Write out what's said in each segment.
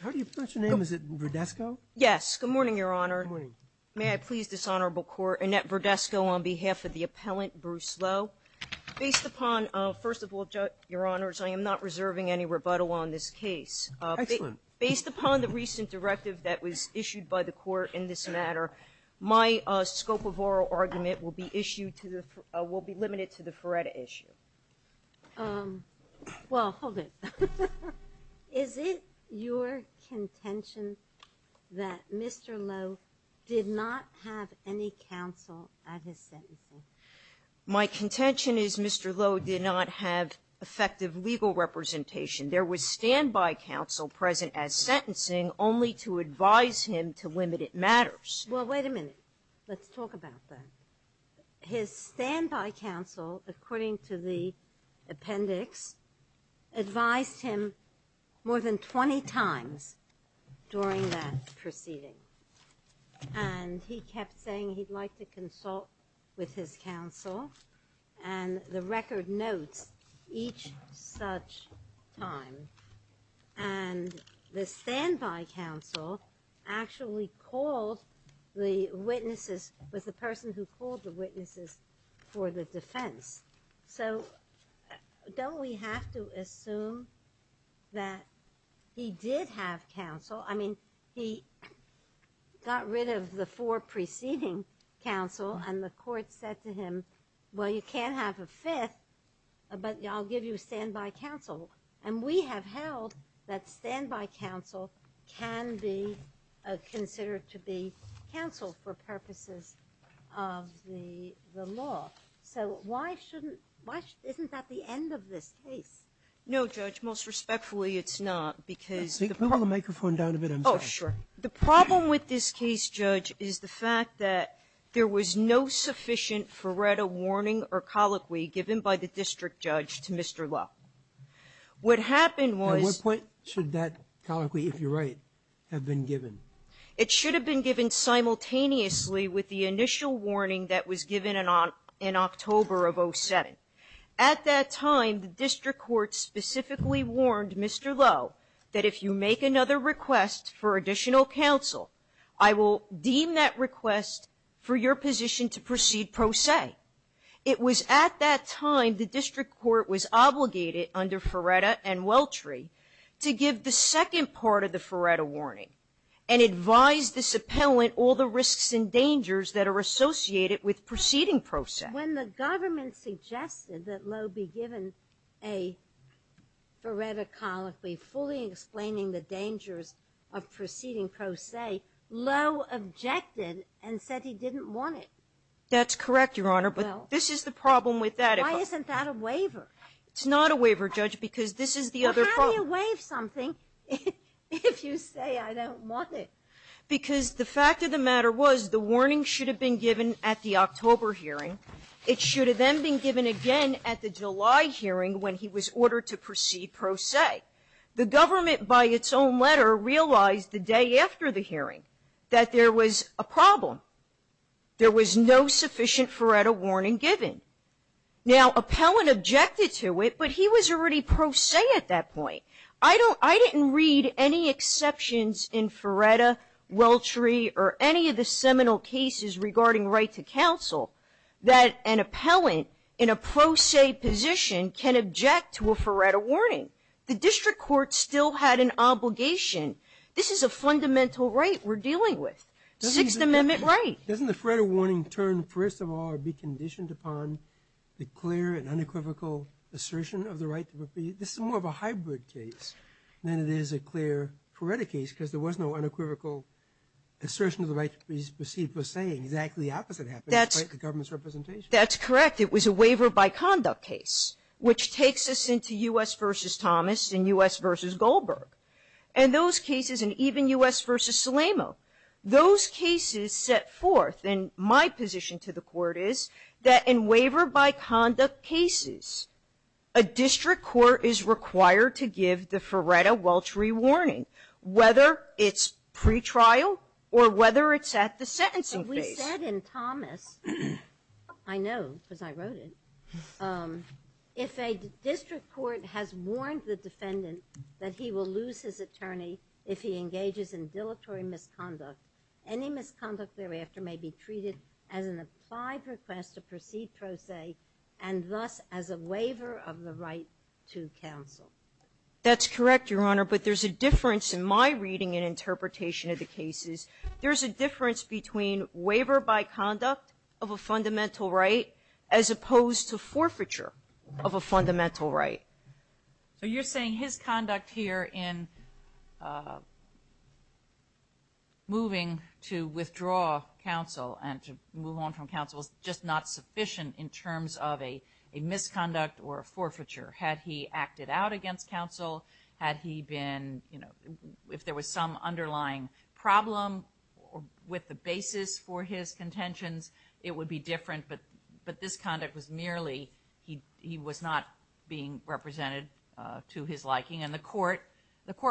How do you pronounce your name? Is it Verdesco? Yes. Good morning, Your Honor. Good morning. May I please, Dishonorable Court, Annette Verdesco on behalf of the appellant, Bruce Lowe. Based upon, first of all, Judge, Your Honors, I am not reserving any rebuttal on this case. Excellent. Based upon the recent directive that was issued by the court in this matter, my scope of oral argument will be limited to the Feretta issue. Well, hold it. Is it your contention that Mr. Lowe did not have any counsel at his sentencing? My contention is Mr. Lowe did not have effective legal representation. There was standby counsel present at sentencing only to advise him to limit it matters. Well, wait a minute. Let's talk about that. His standby counsel, according to the appendix, advised him more than 20 times during that proceeding. And he kept saying he'd like to consult with his counsel. And the record notes each such time. And the standby counsel actually called the witnesses with the person who called the witnesses for the defense. So don't we have to assume that he did have counsel? I mean, he got rid of the four preceding counsel, and the court said to him, well, you can't have a fifth, but I'll give you standby counsel. And we have held that standby counsel can be considered to be counsel for purposes of the law. So why shouldn't we? Isn't that the end of this case? No, Judge. Most respectfully, it's not, because the problem with this case, Judge, is the fact that there was no sufficient Feretta warning or colloquy given by the district judge to Mr. Lowe. What happened was — At what point should that colloquy, if you're right, have been given? It should have been given simultaneously with the initial warning that was given in October of 07. At that time, the district court specifically warned Mr. Lowe that if you make another request for additional counsel, I will deem that request for your position to proceed pro se. It was at that time the district court was obligated under Feretta and Welchry to give the second part of the Feretta warning and advise this appellant all the risks and dangers that are associated with proceeding pro se. When the government suggested that Lowe be given a Feretta colloquy fully explaining the dangers of proceeding pro se, Lowe objected and said he didn't want it. That's correct, Your Honor, but this is the problem with that. Why isn't that a waiver? It's not a waiver, Judge, because this is the other problem. Well, how do you waive something if you say I don't want it? Because the fact of the matter was the warning should have been given at the October hearing. It should have then been given again at the July hearing when he was ordered to proceed pro se. The government, by its own letter, realized the day after the hearing that there was a problem. There was no sufficient Feretta warning given. Now, appellant objected to it, but he was already pro se at that point. I didn't read any exceptions in Feretta, Welchry, or any of the seminal cases regarding right to counsel that an appellant in a pro se position can object to a Feretta warning. The district court still had an obligation. This is a fundamental right we're dealing with. Sixth Amendment right. Doesn't the Feretta warning turn, first of all, or be conditioned upon the clear and unequivocal assertion of the right to proceed? This is more of a hybrid case than it is a clear Feretta case because there was no unequivocal assertion of the right to proceed per se. Exactly the opposite happened, despite the government's representation. That's correct. It was a waiver by conduct case, which takes us into U.S. v. Thomas and U.S. v. Goldberg. And those cases, and even U.S. v. Salamo, those cases set forth, and my position to the Court is, that in waiver by conduct cases, a district court is required to give the Feretta-Welchry warning, whether it's pretrial or whether it's at the sentencing phase. But we said in Thomas, I know because I wrote it, if a district court has warned the defendant that he will lose his attorney if he engages in dilatory misconduct, any misconduct thereafter may be treated as an applied request to proceed per se and thus as a waiver of the right to counsel. That's correct, Your Honor. But there's a difference in my reading and interpretation of the cases. There's a difference between waiver by conduct of a fundamental right as opposed to forfeiture of a fundamental right. So you're saying his conduct here in moving to withdraw counsel and to move on from counsel is just not sufficient in terms of a misconduct or a forfeiture. Had he acted out against counsel, had he been, you know, if there was some underlying problem with the basis for his contentions, it would be different. But this conduct was merely he was not being represented to his liking. And the court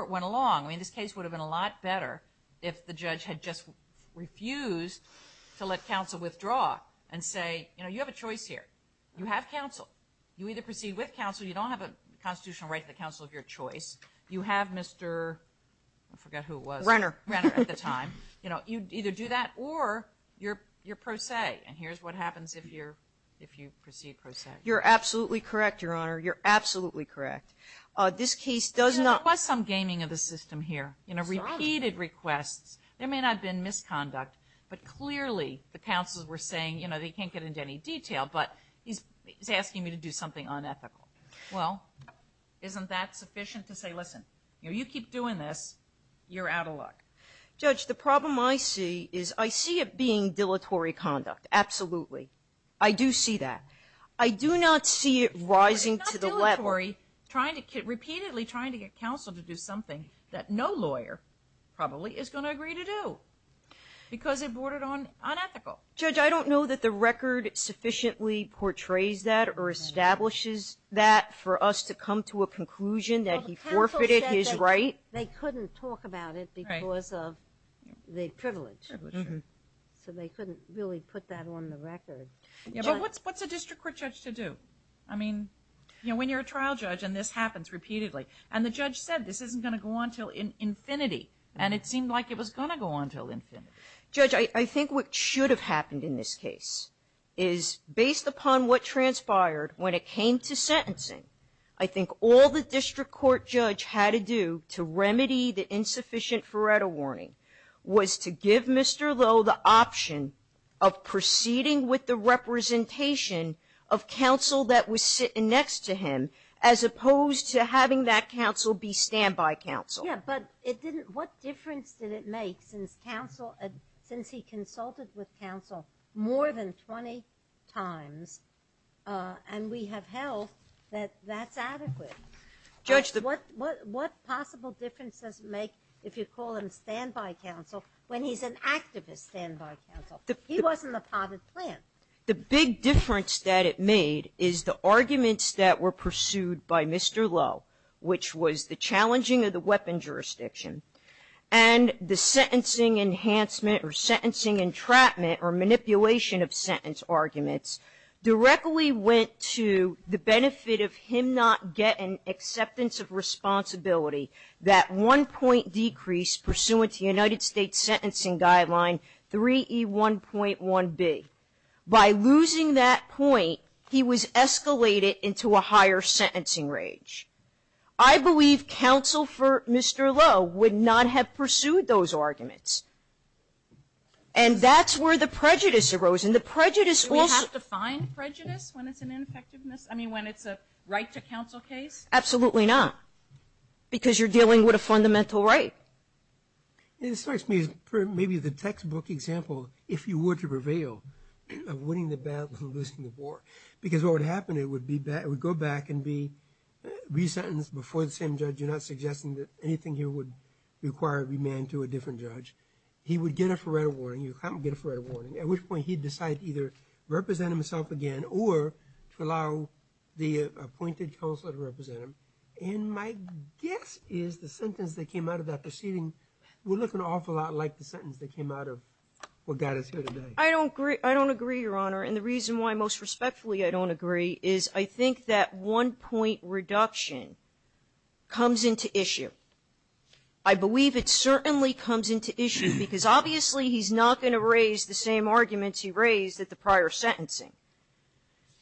went along. I mean, this case would have been a lot better if the judge had just refused to let counsel withdraw and say, you know, you have a choice here. You have counsel. You either proceed with counsel. You don't have a constitutional right to the counsel of your choice. You have Mr. I forget who it was. Renner. Renner at the time. You know, you either do that or you're per se. And here's what happens if you're, if you proceed per se. You're absolutely correct, Your Honor. You're absolutely correct. This case does not. There was some gaming of the system here. You know, repeated requests. There may not have been misconduct, but clearly the counsels were saying, you know, they can't get into any detail, but he's asking me to do something unethical. Well, isn't that sufficient to say, listen, you know, you keep doing this, you're out of luck. Judge, the problem I see is I see it being dilatory conduct. Absolutely. I do see that. I do not see it rising to the level. It's not dilatory. Repeatedly trying to get counsel to do something that no lawyer probably is going to agree to do because it bordered on unethical. Judge, I don't know that the record sufficiently portrays that or establishes that for us to come to a conclusion that he forfeited his right. They couldn't talk about it because of the privilege. So they couldn't really put that on the record. But what's a district court judge to do? I mean, you know, when you're a trial judge and this happens repeatedly, and the judge said this isn't going to go on until infinity, and it seemed like it was going to go on until infinity. Judge, I think what should have happened in this case is based upon what transpired when it came to sentencing, I think all the district court judge had to do to remedy the insufficient Faretto warning was to give Mr. Lowe the option of proceeding with the representation of counsel that was sitting next to him as opposed to having that counsel be standby counsel. Yes, but it didn't – what difference did it make since counsel – since he consulted with counsel more than 20 times and we have held that that's adequate? Judge, the – What possible difference does it make if you call him standby counsel when he's an activist standby counsel? He wasn't a part of the plan. The big difference that it made is the arguments that were pursued by Mr. Lowe, which was the challenging of the weapon jurisdiction, and the sentencing enhancement or sentencing entrapment or manipulation of sentence arguments directly went to the responsibility, that one-point decrease pursuant to United States Sentencing Guideline 3E1.1b. By losing that point, he was escalated into a higher sentencing range. I believe Counsel for Mr. Lowe would not have pursued those arguments. And that's where the prejudice arose. And the prejudice also – Do we have to find prejudice when it's an ineffectiveness – I mean, when it's a right-to-counsel case? Absolutely not, because you're dealing with a fundamental right. This strikes me as maybe the textbook example, if you were to prevail, of winning the battle and losing the war. Because what would happen, it would be – it would go back and be resentenced before the same judge, you're not suggesting that anything here would require remand to a different judge. He would get a forerunner warning. You can't get a forerunner warning, at which point he'd decide to either represent himself again or to allow the appointed counselor to represent him. And my guess is the sentence that came out of that proceeding would look an awful lot like the sentence that came out of what got us here today. I don't agree, Your Honor. And the reason why most respectfully I don't agree is I think that one-point reduction comes into issue. I believe it certainly comes into issue, because obviously he's not going to raise the same arguments he raised at the prior sentencing.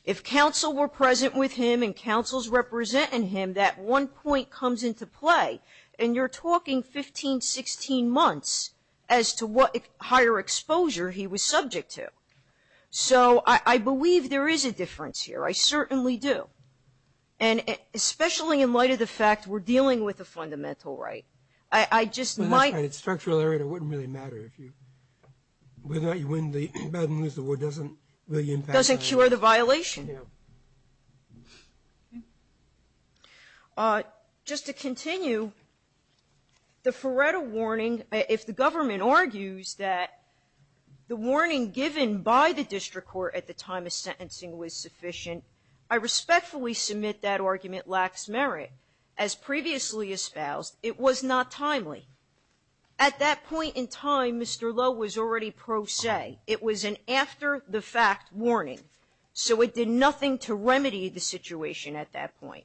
If counsel were present with him and counsel's representing him, that one point comes into play. And you're talking 15, 16 months as to what higher exposure he was subject to. So I believe there is a difference here. I certainly do. And especially in light of the fact we're dealing with a fundamental right. I just might – It wouldn't really matter if you win the battle and lose the war. Doesn't cure the violation? No. Just to continue, the forerunner warning, if the government argues that the warning given by the district court at the time of sentencing was sufficient, I respectfully submit that argument lacks merit. As previously espoused, it was not timely. At that point in time, Mr. Lowe was already pro se. It was an after-the-fact warning. So it did nothing to remedy the situation at that point.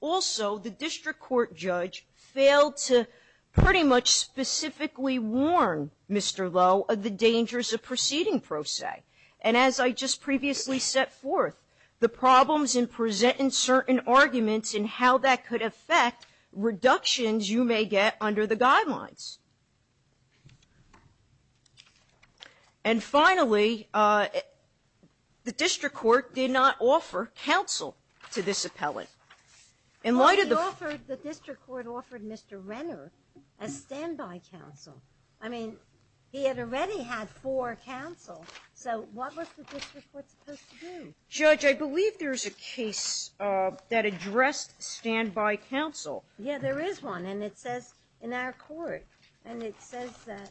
Also, the district court judge failed to pretty much specifically warn Mr. Lowe of the dangers of proceeding pro se. And as I just previously set forth, the problems in presenting certain arguments and how that could affect reductions you may get under the guidelines. And finally, the district court did not offer counsel to this appellant. In light of the – Well, the district court offered Mr. Renner a standby counsel. I mean, he had already had four counsel. So what was the district court supposed to do? Judge, I believe there's a case that addressed standby counsel. Yeah, there is one. And it says in our court, and it says that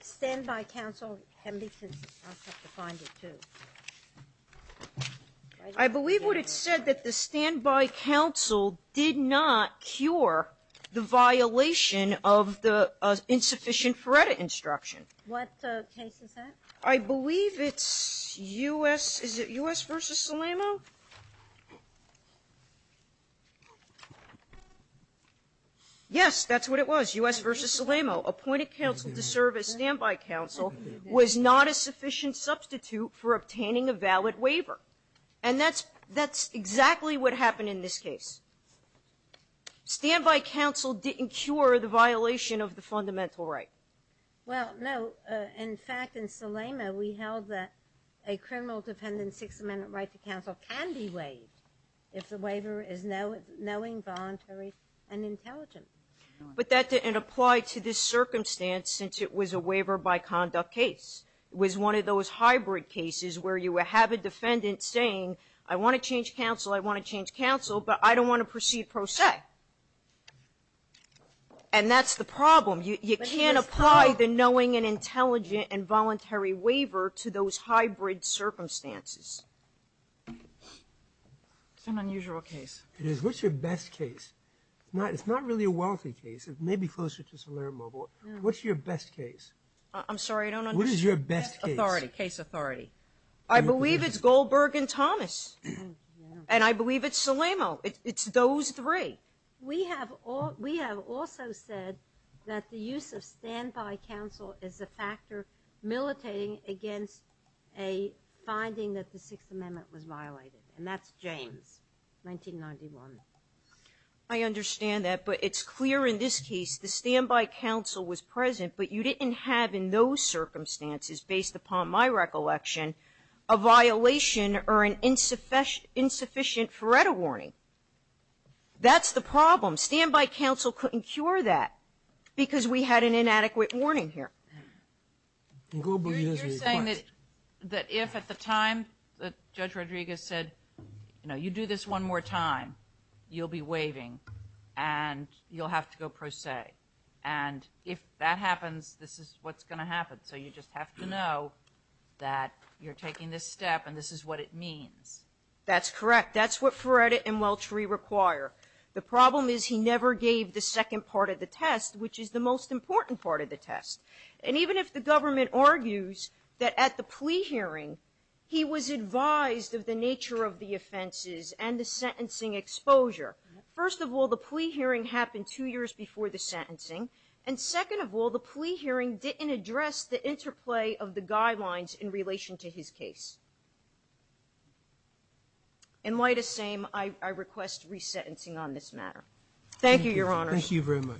standby counsel – I believe what it said, that the standby counsel did not cure the violation of the insufficient forerunner instruction. What case is that? I believe it's U.S. Is it U.S. v. Salamo? Yes, that's what it was, U.S. v. Salamo. Appointed counsel to serve as standby counsel was not a sufficient substitute for obtaining a valid waiver. And that's exactly what happened in this case. Standby counsel didn't cure the violation of the fundamental right. Well, no. In fact, in Salamo, we held that a criminal defendant's Sixth Amendment right to counsel can be waived if the waiver is knowing, voluntary, and intelligent. But that didn't apply to this circumstance since it was a waiver-by-conduct case. It was one of those hybrid cases where you have a defendant saying, I want to change counsel, I want to change counsel, but I don't want to proceed pro se. And that's the problem. You can't apply the knowing and intelligent and voluntary waiver to those hybrid circumstances. It's an unusual case. It is. What's your best case? It's not really a wealthy case. It may be closer to Salamo. What's your best case? I'm sorry, I don't understand. What is your best case? Authority. Case authority. I believe it's Goldberg and Thomas. And I believe it's Salamo. It's those three. We have also said that the use of standby counsel is a factor militating against a finding that the Sixth Amendment was violated. And that's James, 1991. I understand that. But it's clear in this case the standby counsel was present, but you didn't have in those circumstances, based upon my recollection, a violation or an insufficient FREDA warning. That's the problem. Standby counsel couldn't cure that because we had an inadequate warning here. Goldberg has a request. You're saying that if at the time Judge Rodriguez said, you know, you do this one more time, you'll be waiving and you'll have to go pro se. And if that happens, this is what's going to happen. So you just have to know that you're taking this step and this is what it means. That's correct. That's what FREDA and Welch re-require. The problem is he never gave the second part of the test, which is the most important part of the test. And even if the government argues that at the plea hearing he was advised of the nature of the offenses and the sentencing exposure, first of all, the plea hearing happened two years before the sentencing. And second of all, the plea hearing didn't address the interplay of the guidelines in relation to his case. In light of the same, I request resentencing on this matter. Thank you, Your Honor. Thank you very much.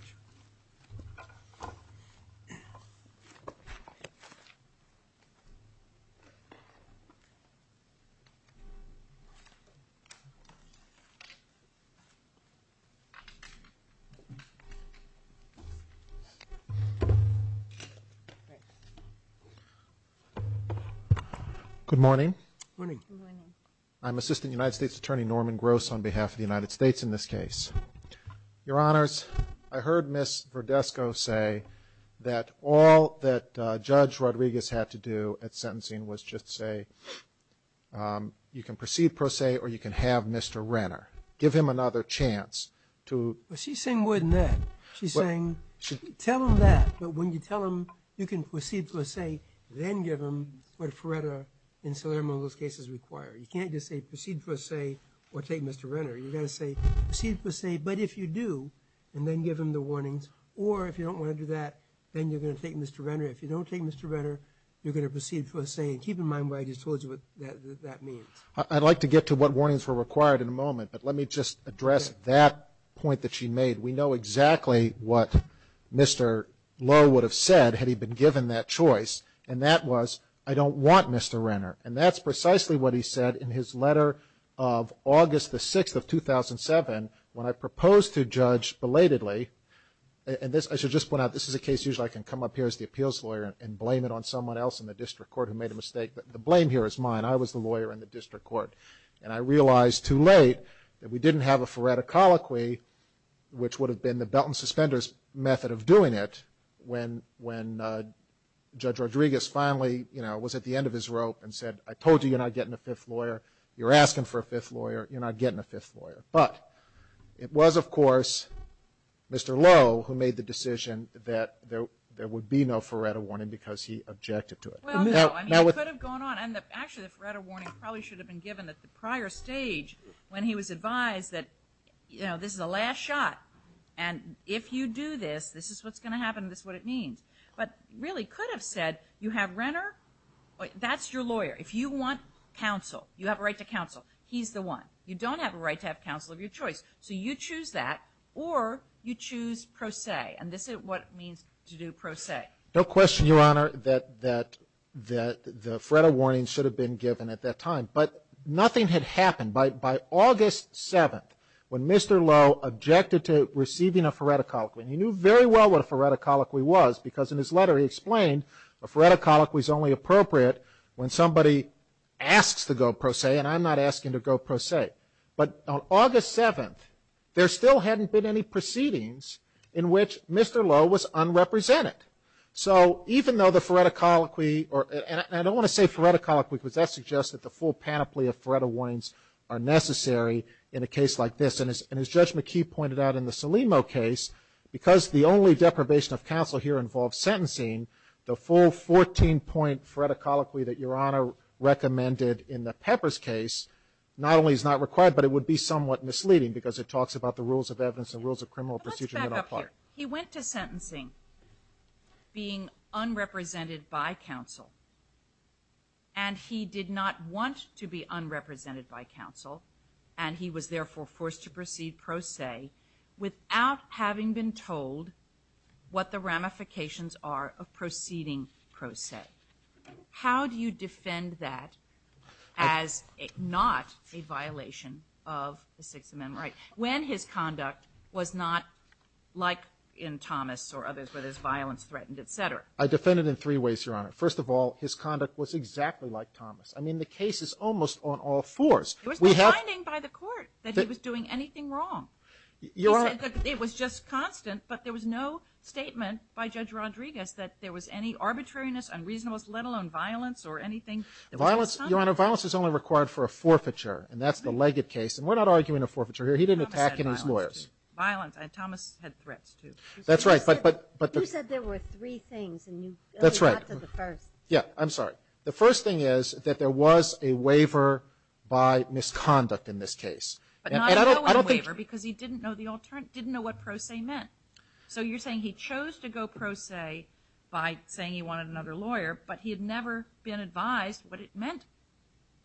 Good morning. Good morning. Good morning. I'm Assistant United States Attorney Norman Gross on behalf of the United States in this case. Your Honors, I heard Ms. Verdesco say that all that Judge Rodriguez had to do at sentencing was just say, you can proceed pro se or you can have Mr. Renner. Give him another chance to. But she's saying more than that. She's saying, tell him that. But when you tell him you can proceed pro se, then give him what FREDA and Salermo those cases require. You can't just say proceed pro se or take Mr. Renner. You've got to say proceed pro se, but if you do, and then give him the warnings, or if you don't want to do that, then you're going to take Mr. Renner. If you don't take Mr. Renner, you're going to proceed pro se. And keep in mind what I just told you what that means. I'd like to get to what warnings were required in a moment, but let me just address that point that she made. We know exactly what Mr. Lowe would have said had he been given that choice, and that was, I don't want Mr. Renner. And that's precisely what he said in his letter of August the 6th of 2007 when I proposed to judge belatedly, and this, I should just point out, this is a case usually I can come up here as the appeals lawyer and blame it on someone else in the district court who made a mistake, but the blame here is mine. I was the lawyer in the district court. And I realized too late that we didn't have a FREDA colloquy, which would have been the belt and suspenders method of doing it, when Judge Rodriguez finally, you know, was at the end of his rope and said, I told you, you're not getting a fifth lawyer. You're asking for a fifth lawyer. You're not getting a fifth lawyer. But it was, of course, Mr. Lowe who made the decision that there would be no FREDA warning because he objected to it. Well, no. I mean, it could have gone on. Actually, the FREDA warning probably should have been given at the prior stage when he was advised that, you know, this is the last shot, and if you do this, this is what's going to happen and this is what it means. But it really could have said, you have Renner, that's your lawyer. If you want counsel, you have a right to counsel, he's the one. You don't have a right to have counsel of your choice, so you choose that or you choose pro se, and this is what it means to do pro se. No question, Your Honor, that the FREDA warning should have been given at that time, but nothing had happened. By August 7th, when Mr. Lowe objected to receiving a FREDA colloquy, he knew very well what a FREDA colloquy was because in his letter he explained a FREDA colloquy is only appropriate when somebody asks to go pro se, and I'm not asking to go pro se. But on August 7th, there still hadn't been any proceedings in which Mr. Lowe was unrepresented. So even though the FREDA colloquy, and I don't want to say FREDA colloquy because that suggests that the full panoply of FREDA warnings are necessary in a case like this. And as Judge McKee pointed out in the Salimo case, because the only deprivation of counsel here involves sentencing, the full 14-point FREDA colloquy that Your Honor recommended in the Peppers case not only is not required, but it would be somewhat misleading because it talks about the rules of evidence and rules of criminal procedure. Let's back up here. He went to sentencing being unrepresented by counsel, and he did not want to be without having been told what the ramifications are of proceeding pro se. How do you defend that as not a violation of the Sixth Amendment right? When his conduct was not like in Thomas or others where there's violence threatened, et cetera. I defend it in three ways, Your Honor. First of all, his conduct was exactly like Thomas. I mean, the case is almost on all fours. There was no finding by the court that he was doing anything wrong. He said that it was just constant, but there was no statement by Judge Rodriguez that there was any arbitrariness, unreasonableness, let alone violence or anything. Violence, Your Honor, violence is only required for a forfeiture, and that's the Leggett case. And we're not arguing a forfeiture here. He didn't attack any lawyers. Thomas had threats, too. That's right. You said there were three things, and you only got to the first. Yeah, I'm sorry. The first thing is that there was a waiver by misconduct in this case. But not knowing the waiver because he didn't know the alternative, didn't know what pro se meant. So you're saying he chose to go pro se by saying he wanted another lawyer, but he had never been advised what it meant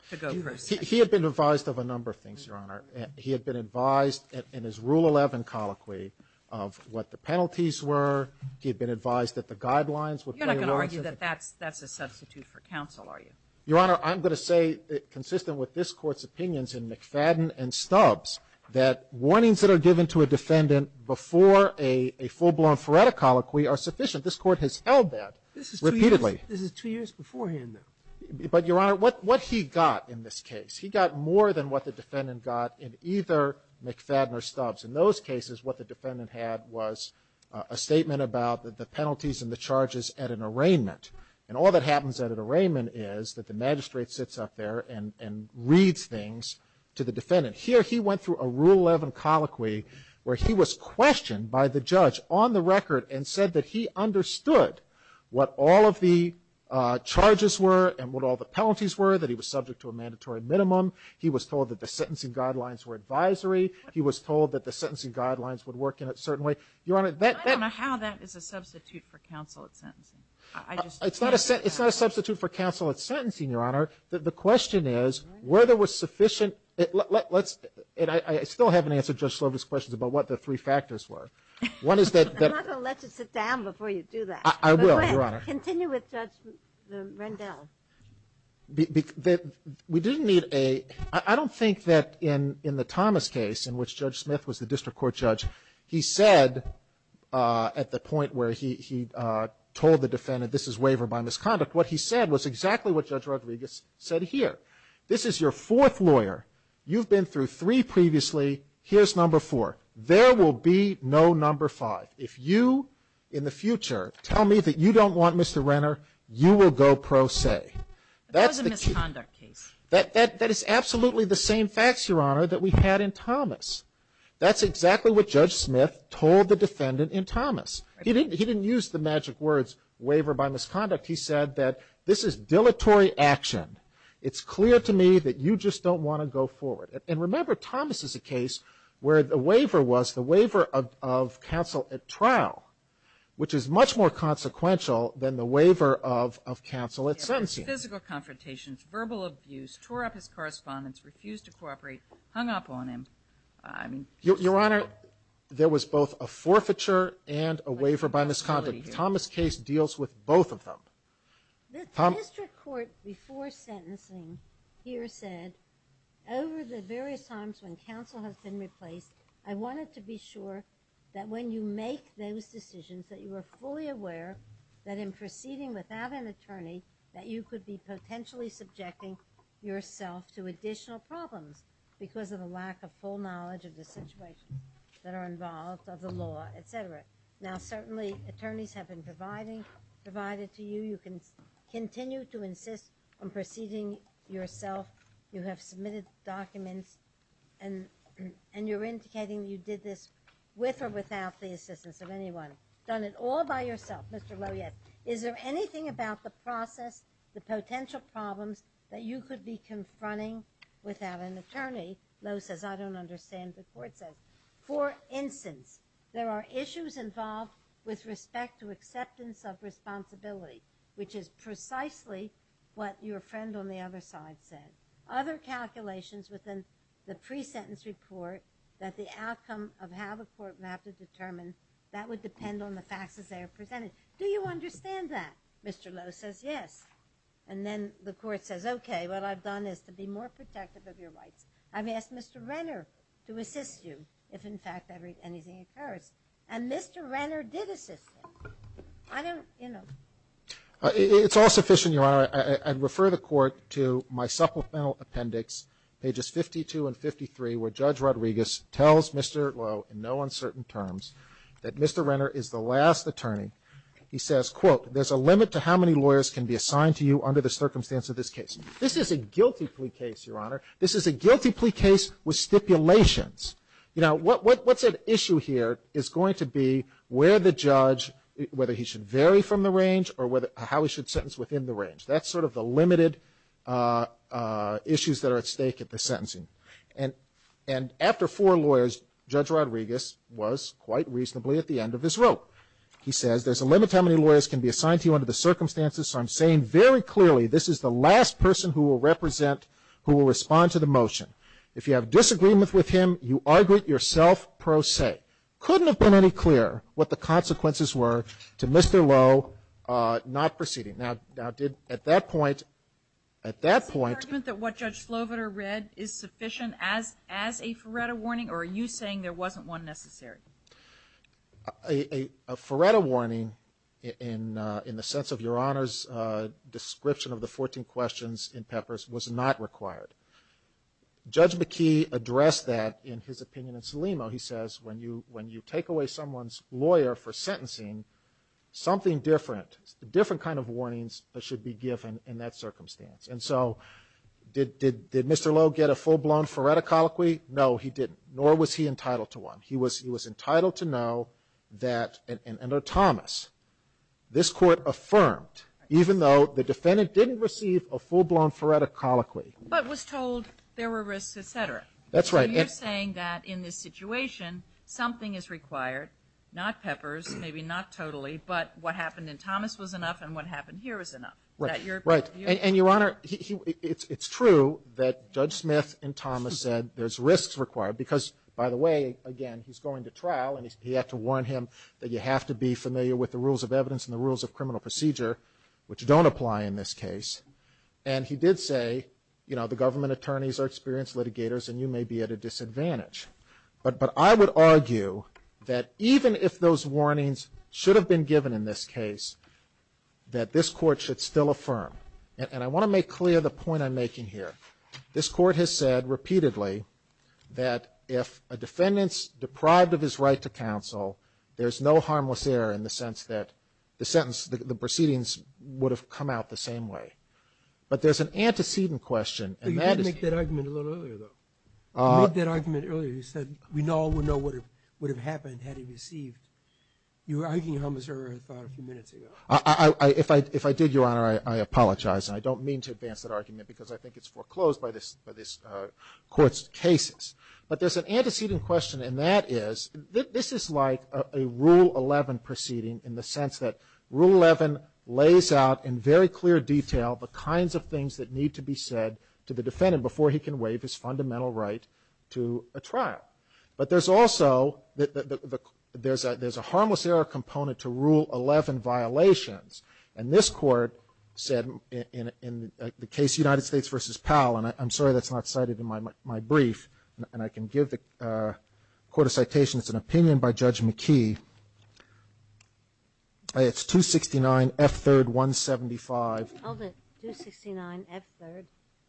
to go pro se. He had been advised of a number of things, Your Honor. He had been advised in his Rule 11 colloquy of what the penalties were. He had been advised that the guidelines would play a role. You're not going to argue that that's a substitute for counsel, are you? Your Honor, I'm going to say, consistent with this Court's opinions in McFadden and Stubbs, that warnings that are given to a defendant before a full-blown Feretta colloquy are sufficient. This Court has held that repeatedly. This is two years beforehand, though. But, Your Honor, what he got in this case, he got more than what the defendant got in either McFadden or Stubbs. In those cases, what the defendant had was a statement about the penalties and the charges at an arraignment. And all that happens at an arraignment is that the magistrate sits up there and reads things to the defendant. Here, he went through a Rule 11 colloquy where he was questioned by the judge on the record and said that he understood what all of the charges were and what all the penalties were, that he was subject to a mandatory minimum. He was told that the sentencing guidelines were advisory. He was told that the sentencing guidelines would work in a certain way. Your Honor, that... I don't know how that is a substitute for counsel at sentencing. I just... It's not a substitute for counsel at sentencing, Your Honor. The question is, were there sufficient... Let's... And I still haven't answered Judge Slob's questions about what the three factors were. One is that... I'm not going to let you sit down before you do that. I will, Your Honor. Continue with Judge Rendell. We didn't need a... I don't think that in the Thomas case, in which Judge Smith was the district court judge, he said at the point where he told the defendant this is waiver by misconduct, what he said was exactly what Judge Rodriguez said here. This is your fourth lawyer. You've been through three previously. Here's number four. There will be no number five. If you, in the future, tell me that you don't want Mr. Renner, you will go pro se. That's the key. That was a misconduct case. That is absolutely the same facts, Your Honor, that we had in Thomas. That's exactly what Judge Smith told the defendant in Thomas. He didn't use the magic words waiver by misconduct. He said that this is dilatory action. It's clear to me that you just don't want to go forward. And remember, Thomas is a case where the waiver was the waiver of counsel at trial, which is much more consequential than the waiver of counsel at sentencing. Physical confrontations, verbal abuse, tore up his correspondence, refused to Your Honor, there was both a forfeiture and a waiver by misconduct. Thomas' case deals with both of them. The district court, before sentencing, here said, over the various times when counsel has been replaced, I wanted to be sure that when you make those decisions that you are fully aware that in proceeding without an attorney, that you could be potentially subjecting yourself to additional problems because of the lack of full knowledge of the situation that are involved, of the law, et cetera. Now, certainly, attorneys have been provided to you. You can continue to insist on proceeding yourself. You have submitted documents, and you're indicating you did this with or without the assistance of anyone. Done it all by yourself, Mr. Lowe, yes. Is there anything about the process, the potential problems that you could be confronting without an attorney? Lowe says, I don't understand. The court says, for instance, there are issues involved with respect to acceptance of responsibility, which is precisely what your friend on the other side said. Other calculations within the pre-sentence report that the outcome of how the court would have to determine, that would depend on the facts as they are presented. Do you understand that? Mr. Lowe says, yes. And then the court says, okay, what I've done is to be more protective of your client. I've asked Mr. Renner to assist you if, in fact, anything occurs. And Mr. Renner did assist him. I don't, you know. It's all sufficient, Your Honor. I'd refer the court to my supplemental appendix, pages 52 and 53, where Judge Rodriguez tells Mr. Lowe in no uncertain terms that Mr. Renner is the last attorney. He says, quote, there's a limit to how many lawyers can be assigned to you under the circumstance of this case. This is a guilty plea case, Your Honor. This is a guilty plea case with stipulations. You know, what's at issue here is going to be where the judge, whether he should vary from the range or how he should sentence within the range. That's sort of the limited issues that are at stake at the sentencing. And after four lawyers, Judge Rodriguez was quite reasonably at the end of his rope. He says, there's a limit to how many lawyers can be assigned to you under the circumstances. So I'm saying very clearly this is the last person who will represent, who will respond to the motion. If you have disagreement with him, you argue it yourself pro se. Couldn't have been any clearer what the consequences were to Mr. Lowe not proceeding. Now, did, at that point, at that point. Kagan. Is the argument that what Judge Sloviter read is sufficient as a Feretta warning or are you saying there wasn't one necessary? A Feretta warning in the sense of Your Honor's description of the 14 questions in Peppers was not required. Judge McKee addressed that in his opinion in Selimo. He says when you take away someone's lawyer for sentencing, something different, different kind of warnings should be given in that circumstance. And so did Mr. Lowe get a full-blown Feretta colloquy? No, he didn't. Nor was he entitled to one. He was entitled to know that, under Thomas, this Court affirmed, even though the defendant didn't receive a full-blown Feretta colloquy. But was told there were risks, et cetera. That's right. So you're saying that in this situation, something is required, not Peppers, maybe not totally, but what happened in Thomas was enough and what happened here was enough. Right. And Your Honor, it's true that Judge Smith in Thomas said there's risks required because, by the way, again, he's going to trial and he had to warn him that you have to be familiar with the rules of evidence and the rules of criminal procedure, which don't apply in this case. And he did say, you know, the government attorneys are experienced litigators and you may be at a disadvantage. But I would argue that even if those warnings should have been given in this case, that this Court should still affirm. And I want to make clear the point I'm making here. This Court has said repeatedly that if a defendant's deprived of his right to counsel, there's no harmless error in the sense that the sentence, the proceedings would have come out the same way. But there's an antecedent question. You did make that argument a little earlier, though. You made that argument earlier. You said we all would know what would have happened had he received. You were arguing a homicidal error, I thought, a few minutes ago. If I did, Your Honor, I apologize. I don't mean to advance that argument because I think it's foreclosed by this Court's cases. But there's an antecedent question, and that is, this is like a Rule 11 proceeding in the sense that Rule 11 lays out in very clear detail the kinds of things that need to be said to the defendant before he can waive his fundamental right to a trial. But there's also, there's a harmless error component to Rule 11 violations. And this Court said in the case United States v. Powell, and I'm sorry that's not cited in my brief, and I can give the Court a citation. It's an opinion by Judge McKee. It's 269 F3rd 175. I'll get 269 F3rd.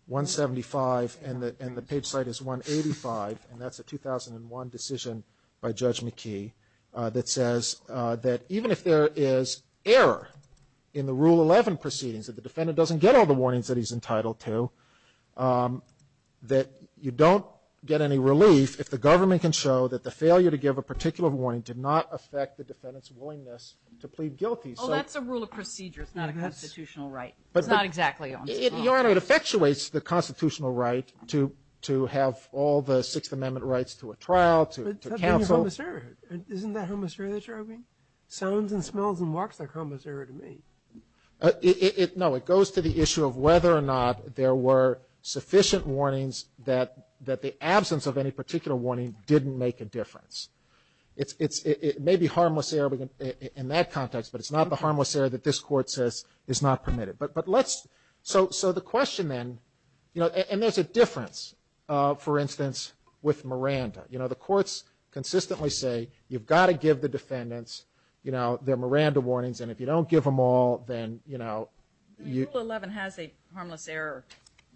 175, and the page site is 185, and that's a 2001 decision by Judge McKee that says that even if there is error in the Rule 11 proceedings, that the defendant doesn't get all the warnings that he's entitled to, that you don't get any relief if the government can show that the failure to give a particular warning did not affect the defendant's willingness to plead guilty. Oh, that's a rule of procedure. It's not a constitutional right. It's not exactly on the law. Your Honor, it effectuates the constitutional right to have all the Sixth Amendment rights to a trial, to counsel. Isn't that homicidary that you're arguing? Sounds and smells and walks like homicidary to me. No, it goes to the issue of whether or not there were sufficient warnings that the absence of any particular warning didn't make a difference. It may be harmless error in that context, but it's not the harmless error that this Court says is not permitted. So the question then, and there's a difference, for instance, with Miranda. You know, the courts consistently say you've got to give the defendants, you know, their Miranda warnings, and if you don't give them all, then, you know, you. Rule 11 has a harmless error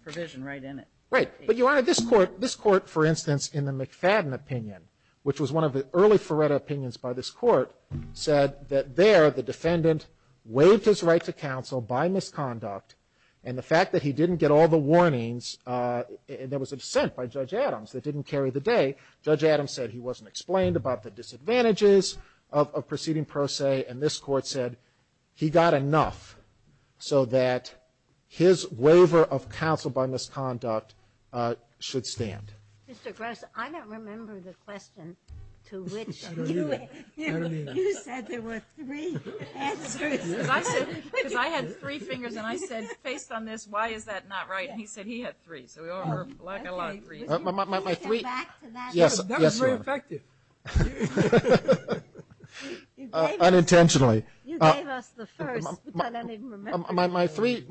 provision right in it. Right. But, Your Honor, this Court, this Court, for instance, in the McFadden opinion, which was one of the early Feretta opinions by this Court, said that there the defendant waived his right to counsel by misconduct, and the fact that he didn't get all the warnings, and there was a dissent by Judge Adams that didn't carry the day. Judge Adams said he wasn't explained about the disadvantages of proceeding pro se, and this Court said he got enough so that his waiver of counsel by misconduct should stand. Mr. Gross, I don't remember the question to which you said there were three answers. Because I said, because I had three fingers, and I said, based on this, why is that not right? And he said he had three. So we all heard black and a lot of three. Was your finger back to that? Yes, Your Honor. That was very effective. Unintentionally. You gave us the first, but I don't even remember. My three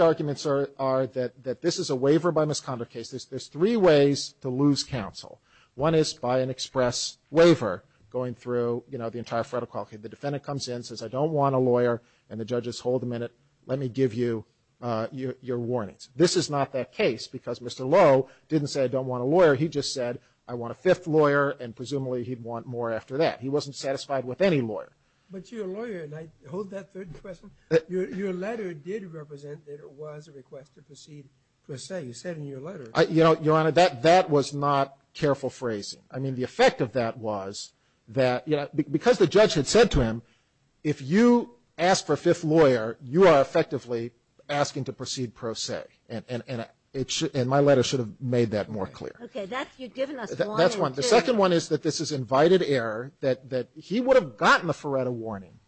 arguments are that this is a waiver by misconduct case. There's three ways to lose counsel. One is by an express waiver going through, you know, the entire Feretta quality. The defendant comes in, says, I don't want a lawyer, and the judges hold him in it. Let me give you your warnings. This is not that case because Mr. Lowe didn't say I don't want a lawyer. He just said I want a fifth lawyer, and presumably he'd want more after that. He wasn't satisfied with any lawyer. But you're a lawyer, and I hold that third question. Your letter did represent that it was a request to proceed pro se. You said in your letter. You know, Your Honor, that was not careful phrasing. I mean, the effect of that was that, you know, because the judge had said to him, if you ask for a fifth lawyer, you are effectively asking to proceed pro se, and my letter should have made that more clear. Okay. You've given us one and two. The second one is that this is invited error, that he would have gotten the Feretta warning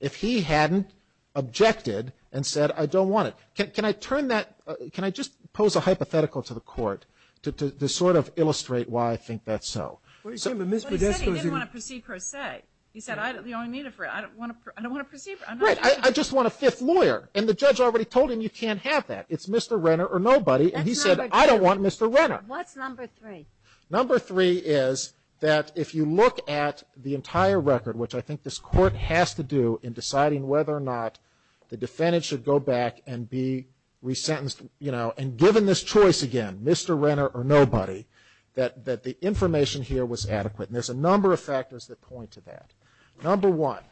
if he hadn't objected and said, I don't want it. Can I turn that, can I just pose a hypothetical to the court to sort of illustrate why I think that's so? But he said he didn't want to proceed pro se. Right. He said, I don't need it. I don't want to proceed. Right. I just want a fifth lawyer. And the judge already told him you can't have that. It's Mr. Renner or nobody, and he said, I don't want Mr. Renner. What's number three? Number three is that if you look at the entire record, which I think this court has to do in deciding whether or not the defendant should go back and be resentenced, you know, and given this choice again, Mr. Renner or nobody, that the information here was adequate. And there's a number of factors that point to that. Number one,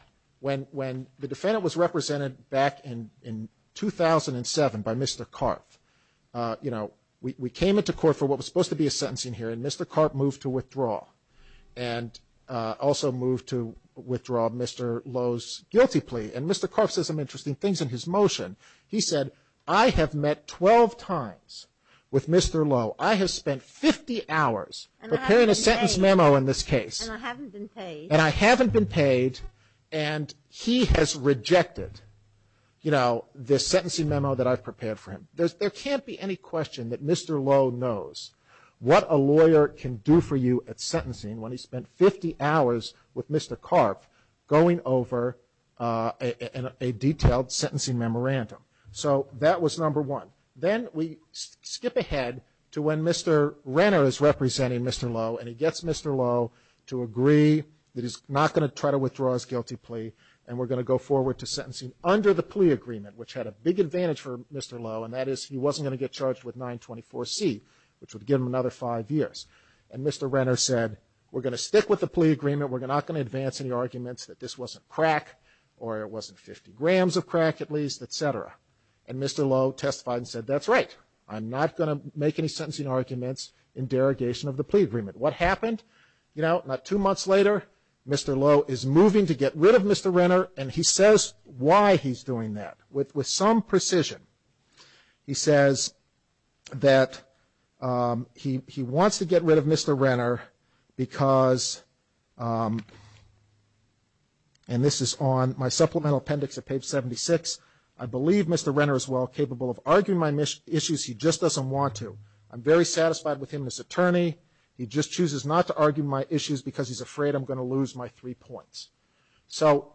when the defendant was represented back in 2007 by Mr. Carff, you know, we came into court for what was supposed to be a sentencing hearing, and Mr. Carff moved to withdraw, and also moved to withdraw Mr. Lowe's guilty plea. And Mr. Carff says some interesting things in his motion. He said, I have met 12 times with Mr. Lowe. I have spent 50 hours preparing a sentence memo in this case. And I haven't been paid. And I haven't been paid, and he has rejected, you know, this sentencing memo that I've prepared for him. There can't be any question that Mr. Lowe knows what a lawyer can do for you at sentencing when he spent 50 hours with Mr. Carff going over a detailed sentencing memorandum. So that was number one. Then we skip ahead to when Mr. Renner is representing Mr. Lowe, and he gets Mr. Lowe to agree that he's not going to try to withdraw his guilty plea, and we're going to go forward to sentencing under the plea agreement, which had a big advantage for Mr. Lowe, and that is he wasn't going to get charged with 924C, which would give him another five years. And Mr. Renner said, we're going to stick with the plea agreement. We're not going to advance any arguments that this wasn't crack, or it wasn't 50 grams of crack at least, et cetera. And Mr. Lowe testified and said, that's right. I'm not going to make any sentencing arguments in derogation of the plea agreement. What happened? You know, not two months later, Mr. Lowe is moving to get rid of Mr. Renner, and he says why he's doing that with some precision. He says that he wants to get rid of Mr. Renner because, and this is on my supplemental appendix at page 76, I believe Mr. Renner is well capable of arguing my issues. He just doesn't want to. I'm very satisfied with him as attorney. He just chooses not to argue my issues because he's afraid I'm going to lose my three points. So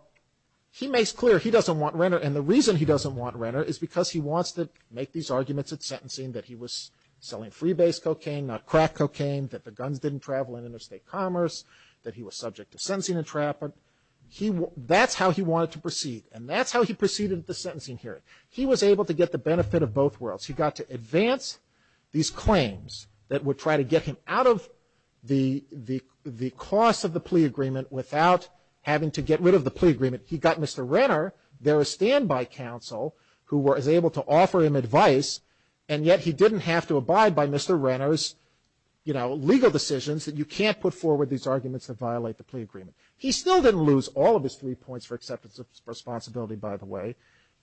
he makes clear he doesn't want Renner, and the reason he doesn't want Renner is because he wants to make these arguments at sentencing, that he was selling freebase cocaine, not crack cocaine, that the guns didn't travel in interstate commerce, that he was subject to sentencing entrapment. That's how he wanted to proceed, and that's how he proceeded at the sentencing hearing. He was able to get the benefit of both worlds. He got to advance these claims that would try to get him out of the cost of the plea agreement without having to get rid of the plea agreement. He got Mr. Renner, their standby counsel, who was able to offer him advice, and yet he didn't have to abide by Mr. Renner's, you know, legal decisions that you can't put forward these arguments that violate the plea agreement. He still didn't lose all of his three points for acceptance of responsibility, by the way.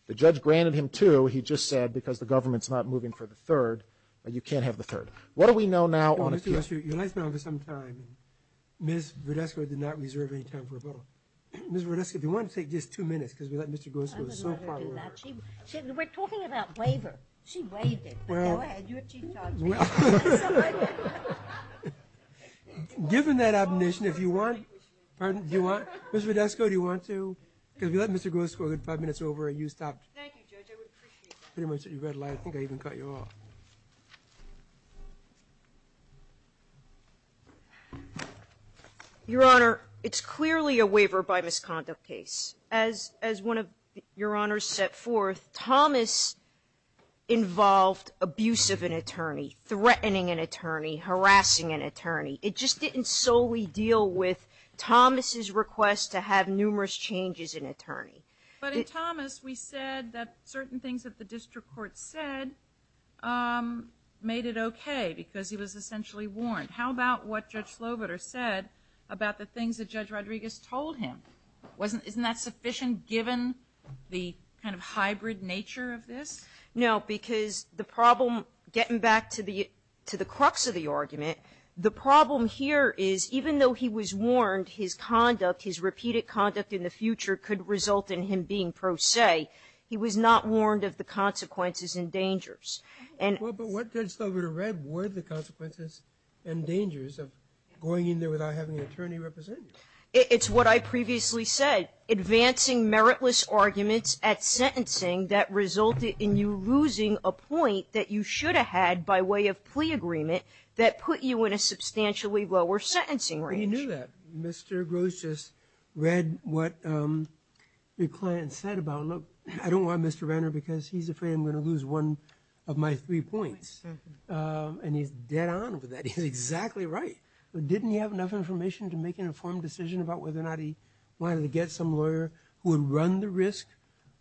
The judge granted him two. He just said because the government's not moving for the third, you can't have the third. What do we know now on appeal? Your life is now over some time. Ms. Verdesco did not reserve any time for rebuttal. Ms. Verdesco, if you want to take just two minutes because we let Mr. Groskow... I would rather do that. We're talking about waiver. She waived it, but go ahead. You're Chief Judge. Given that omission, if you want... Pardon? Do you want... Ms. Verdesco, do you want to... Because we let Mr. Groskow get five minutes over and you stopped. Thank you, Judge. I would appreciate that. I think I even cut you off. Your Honor, it's clearly a waiver by misconduct case. As one of your honors set forth, Thomas involved abuse of an attorney, threatening an attorney, harassing an attorney. It just didn't solely deal with Thomas' request to have numerous changes in an attorney. But in Thomas, we said that certain things that the district court said made it okay because he was essentially warned. How about what Judge Sloboder said about the things that Judge Rodriguez told him? Isn't that sufficient given the kind of hybrid nature of this? No, because the problem, getting back to the crux of the argument, the problem here is even though he was warned his conduct, his repeated conduct in the future could result in him being pro se, he was not warned of the consequences and dangers. But what Judge Sloboder read were the consequences and dangers of going in there without having an attorney represent you. It's what I previously said, advancing meritless arguments at sentencing that resulted in you losing a point that you should have had by way of plea agreement that put you in a substantially lower sentencing range. But he knew that. Mr. Gross just read what your client said about, look, I don't want Mr. Renner because he's afraid I'm going to lose one of my three points. And he's dead on with that. He's exactly right. But didn't he have enough information to make an informed decision about whether or not he wanted to get some lawyer who would run the risk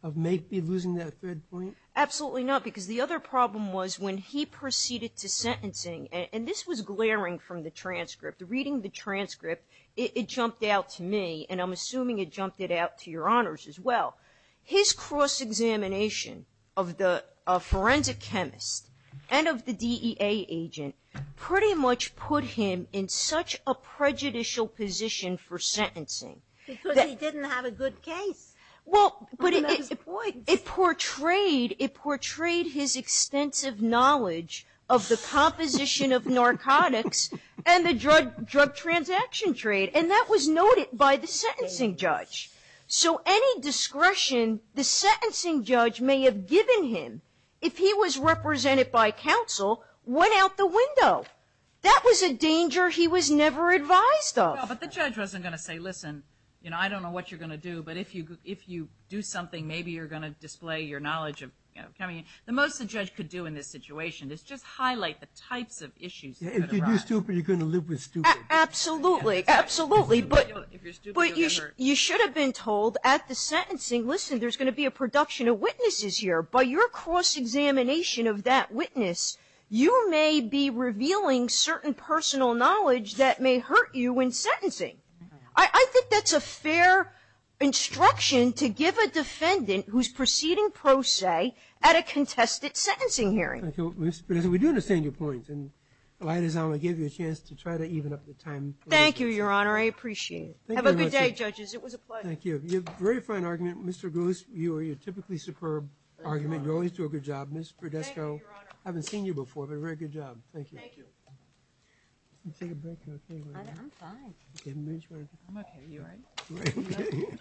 of maybe losing that third point? Absolutely not, because the other problem was when he proceeded to sentencing, and this was glaring from the transcript. Reading the transcript, it jumped out to me, and I'm assuming it jumped it out to your honors as well. His cross-examination of the forensic chemist and of the DEA agent pretty much put him in such a prejudicial position for sentencing. Because he didn't have a good case. Well, but it portrayed his extensive knowledge of the composition of narcotics and the drug transaction trade, and that was noted by the sentencing judge. So any discretion the sentencing judge may have given him if he was represented by counsel went out the window. That was a danger he was never advised of. But the judge wasn't going to say, listen, I don't know what you're going to do, but if you do something, maybe you're going to display your knowledge of coming in. The most the judge could do in this situation is just highlight the types of issues. If you do stupid, you're going to live with stupid. Absolutely. Absolutely. But you should have been told at the sentencing, listen, there's going to be a production of witnesses here. By your cross-examination of that witness, you may be revealing certain personal knowledge that may hurt you in sentencing. I think that's a fair instruction to give a defendant who's proceeding pro se at a contested sentencing hearing. Thank you. Mr. Podesta, we do understand your point. And, Elias, I'm going to give you a chance to try to even up the time. Thank you, Your Honor. I appreciate it. Have a good day, judges. It was a pleasure. Thank you. You have a very fine argument. Mr. Goose, you have a typically superb argument. You always do a good job. Ms. Podesta, I haven't seen you before, but a very good job. Thank you. Let's take a break. Are you okay? I'm fine. I'm okay. You all right? Great.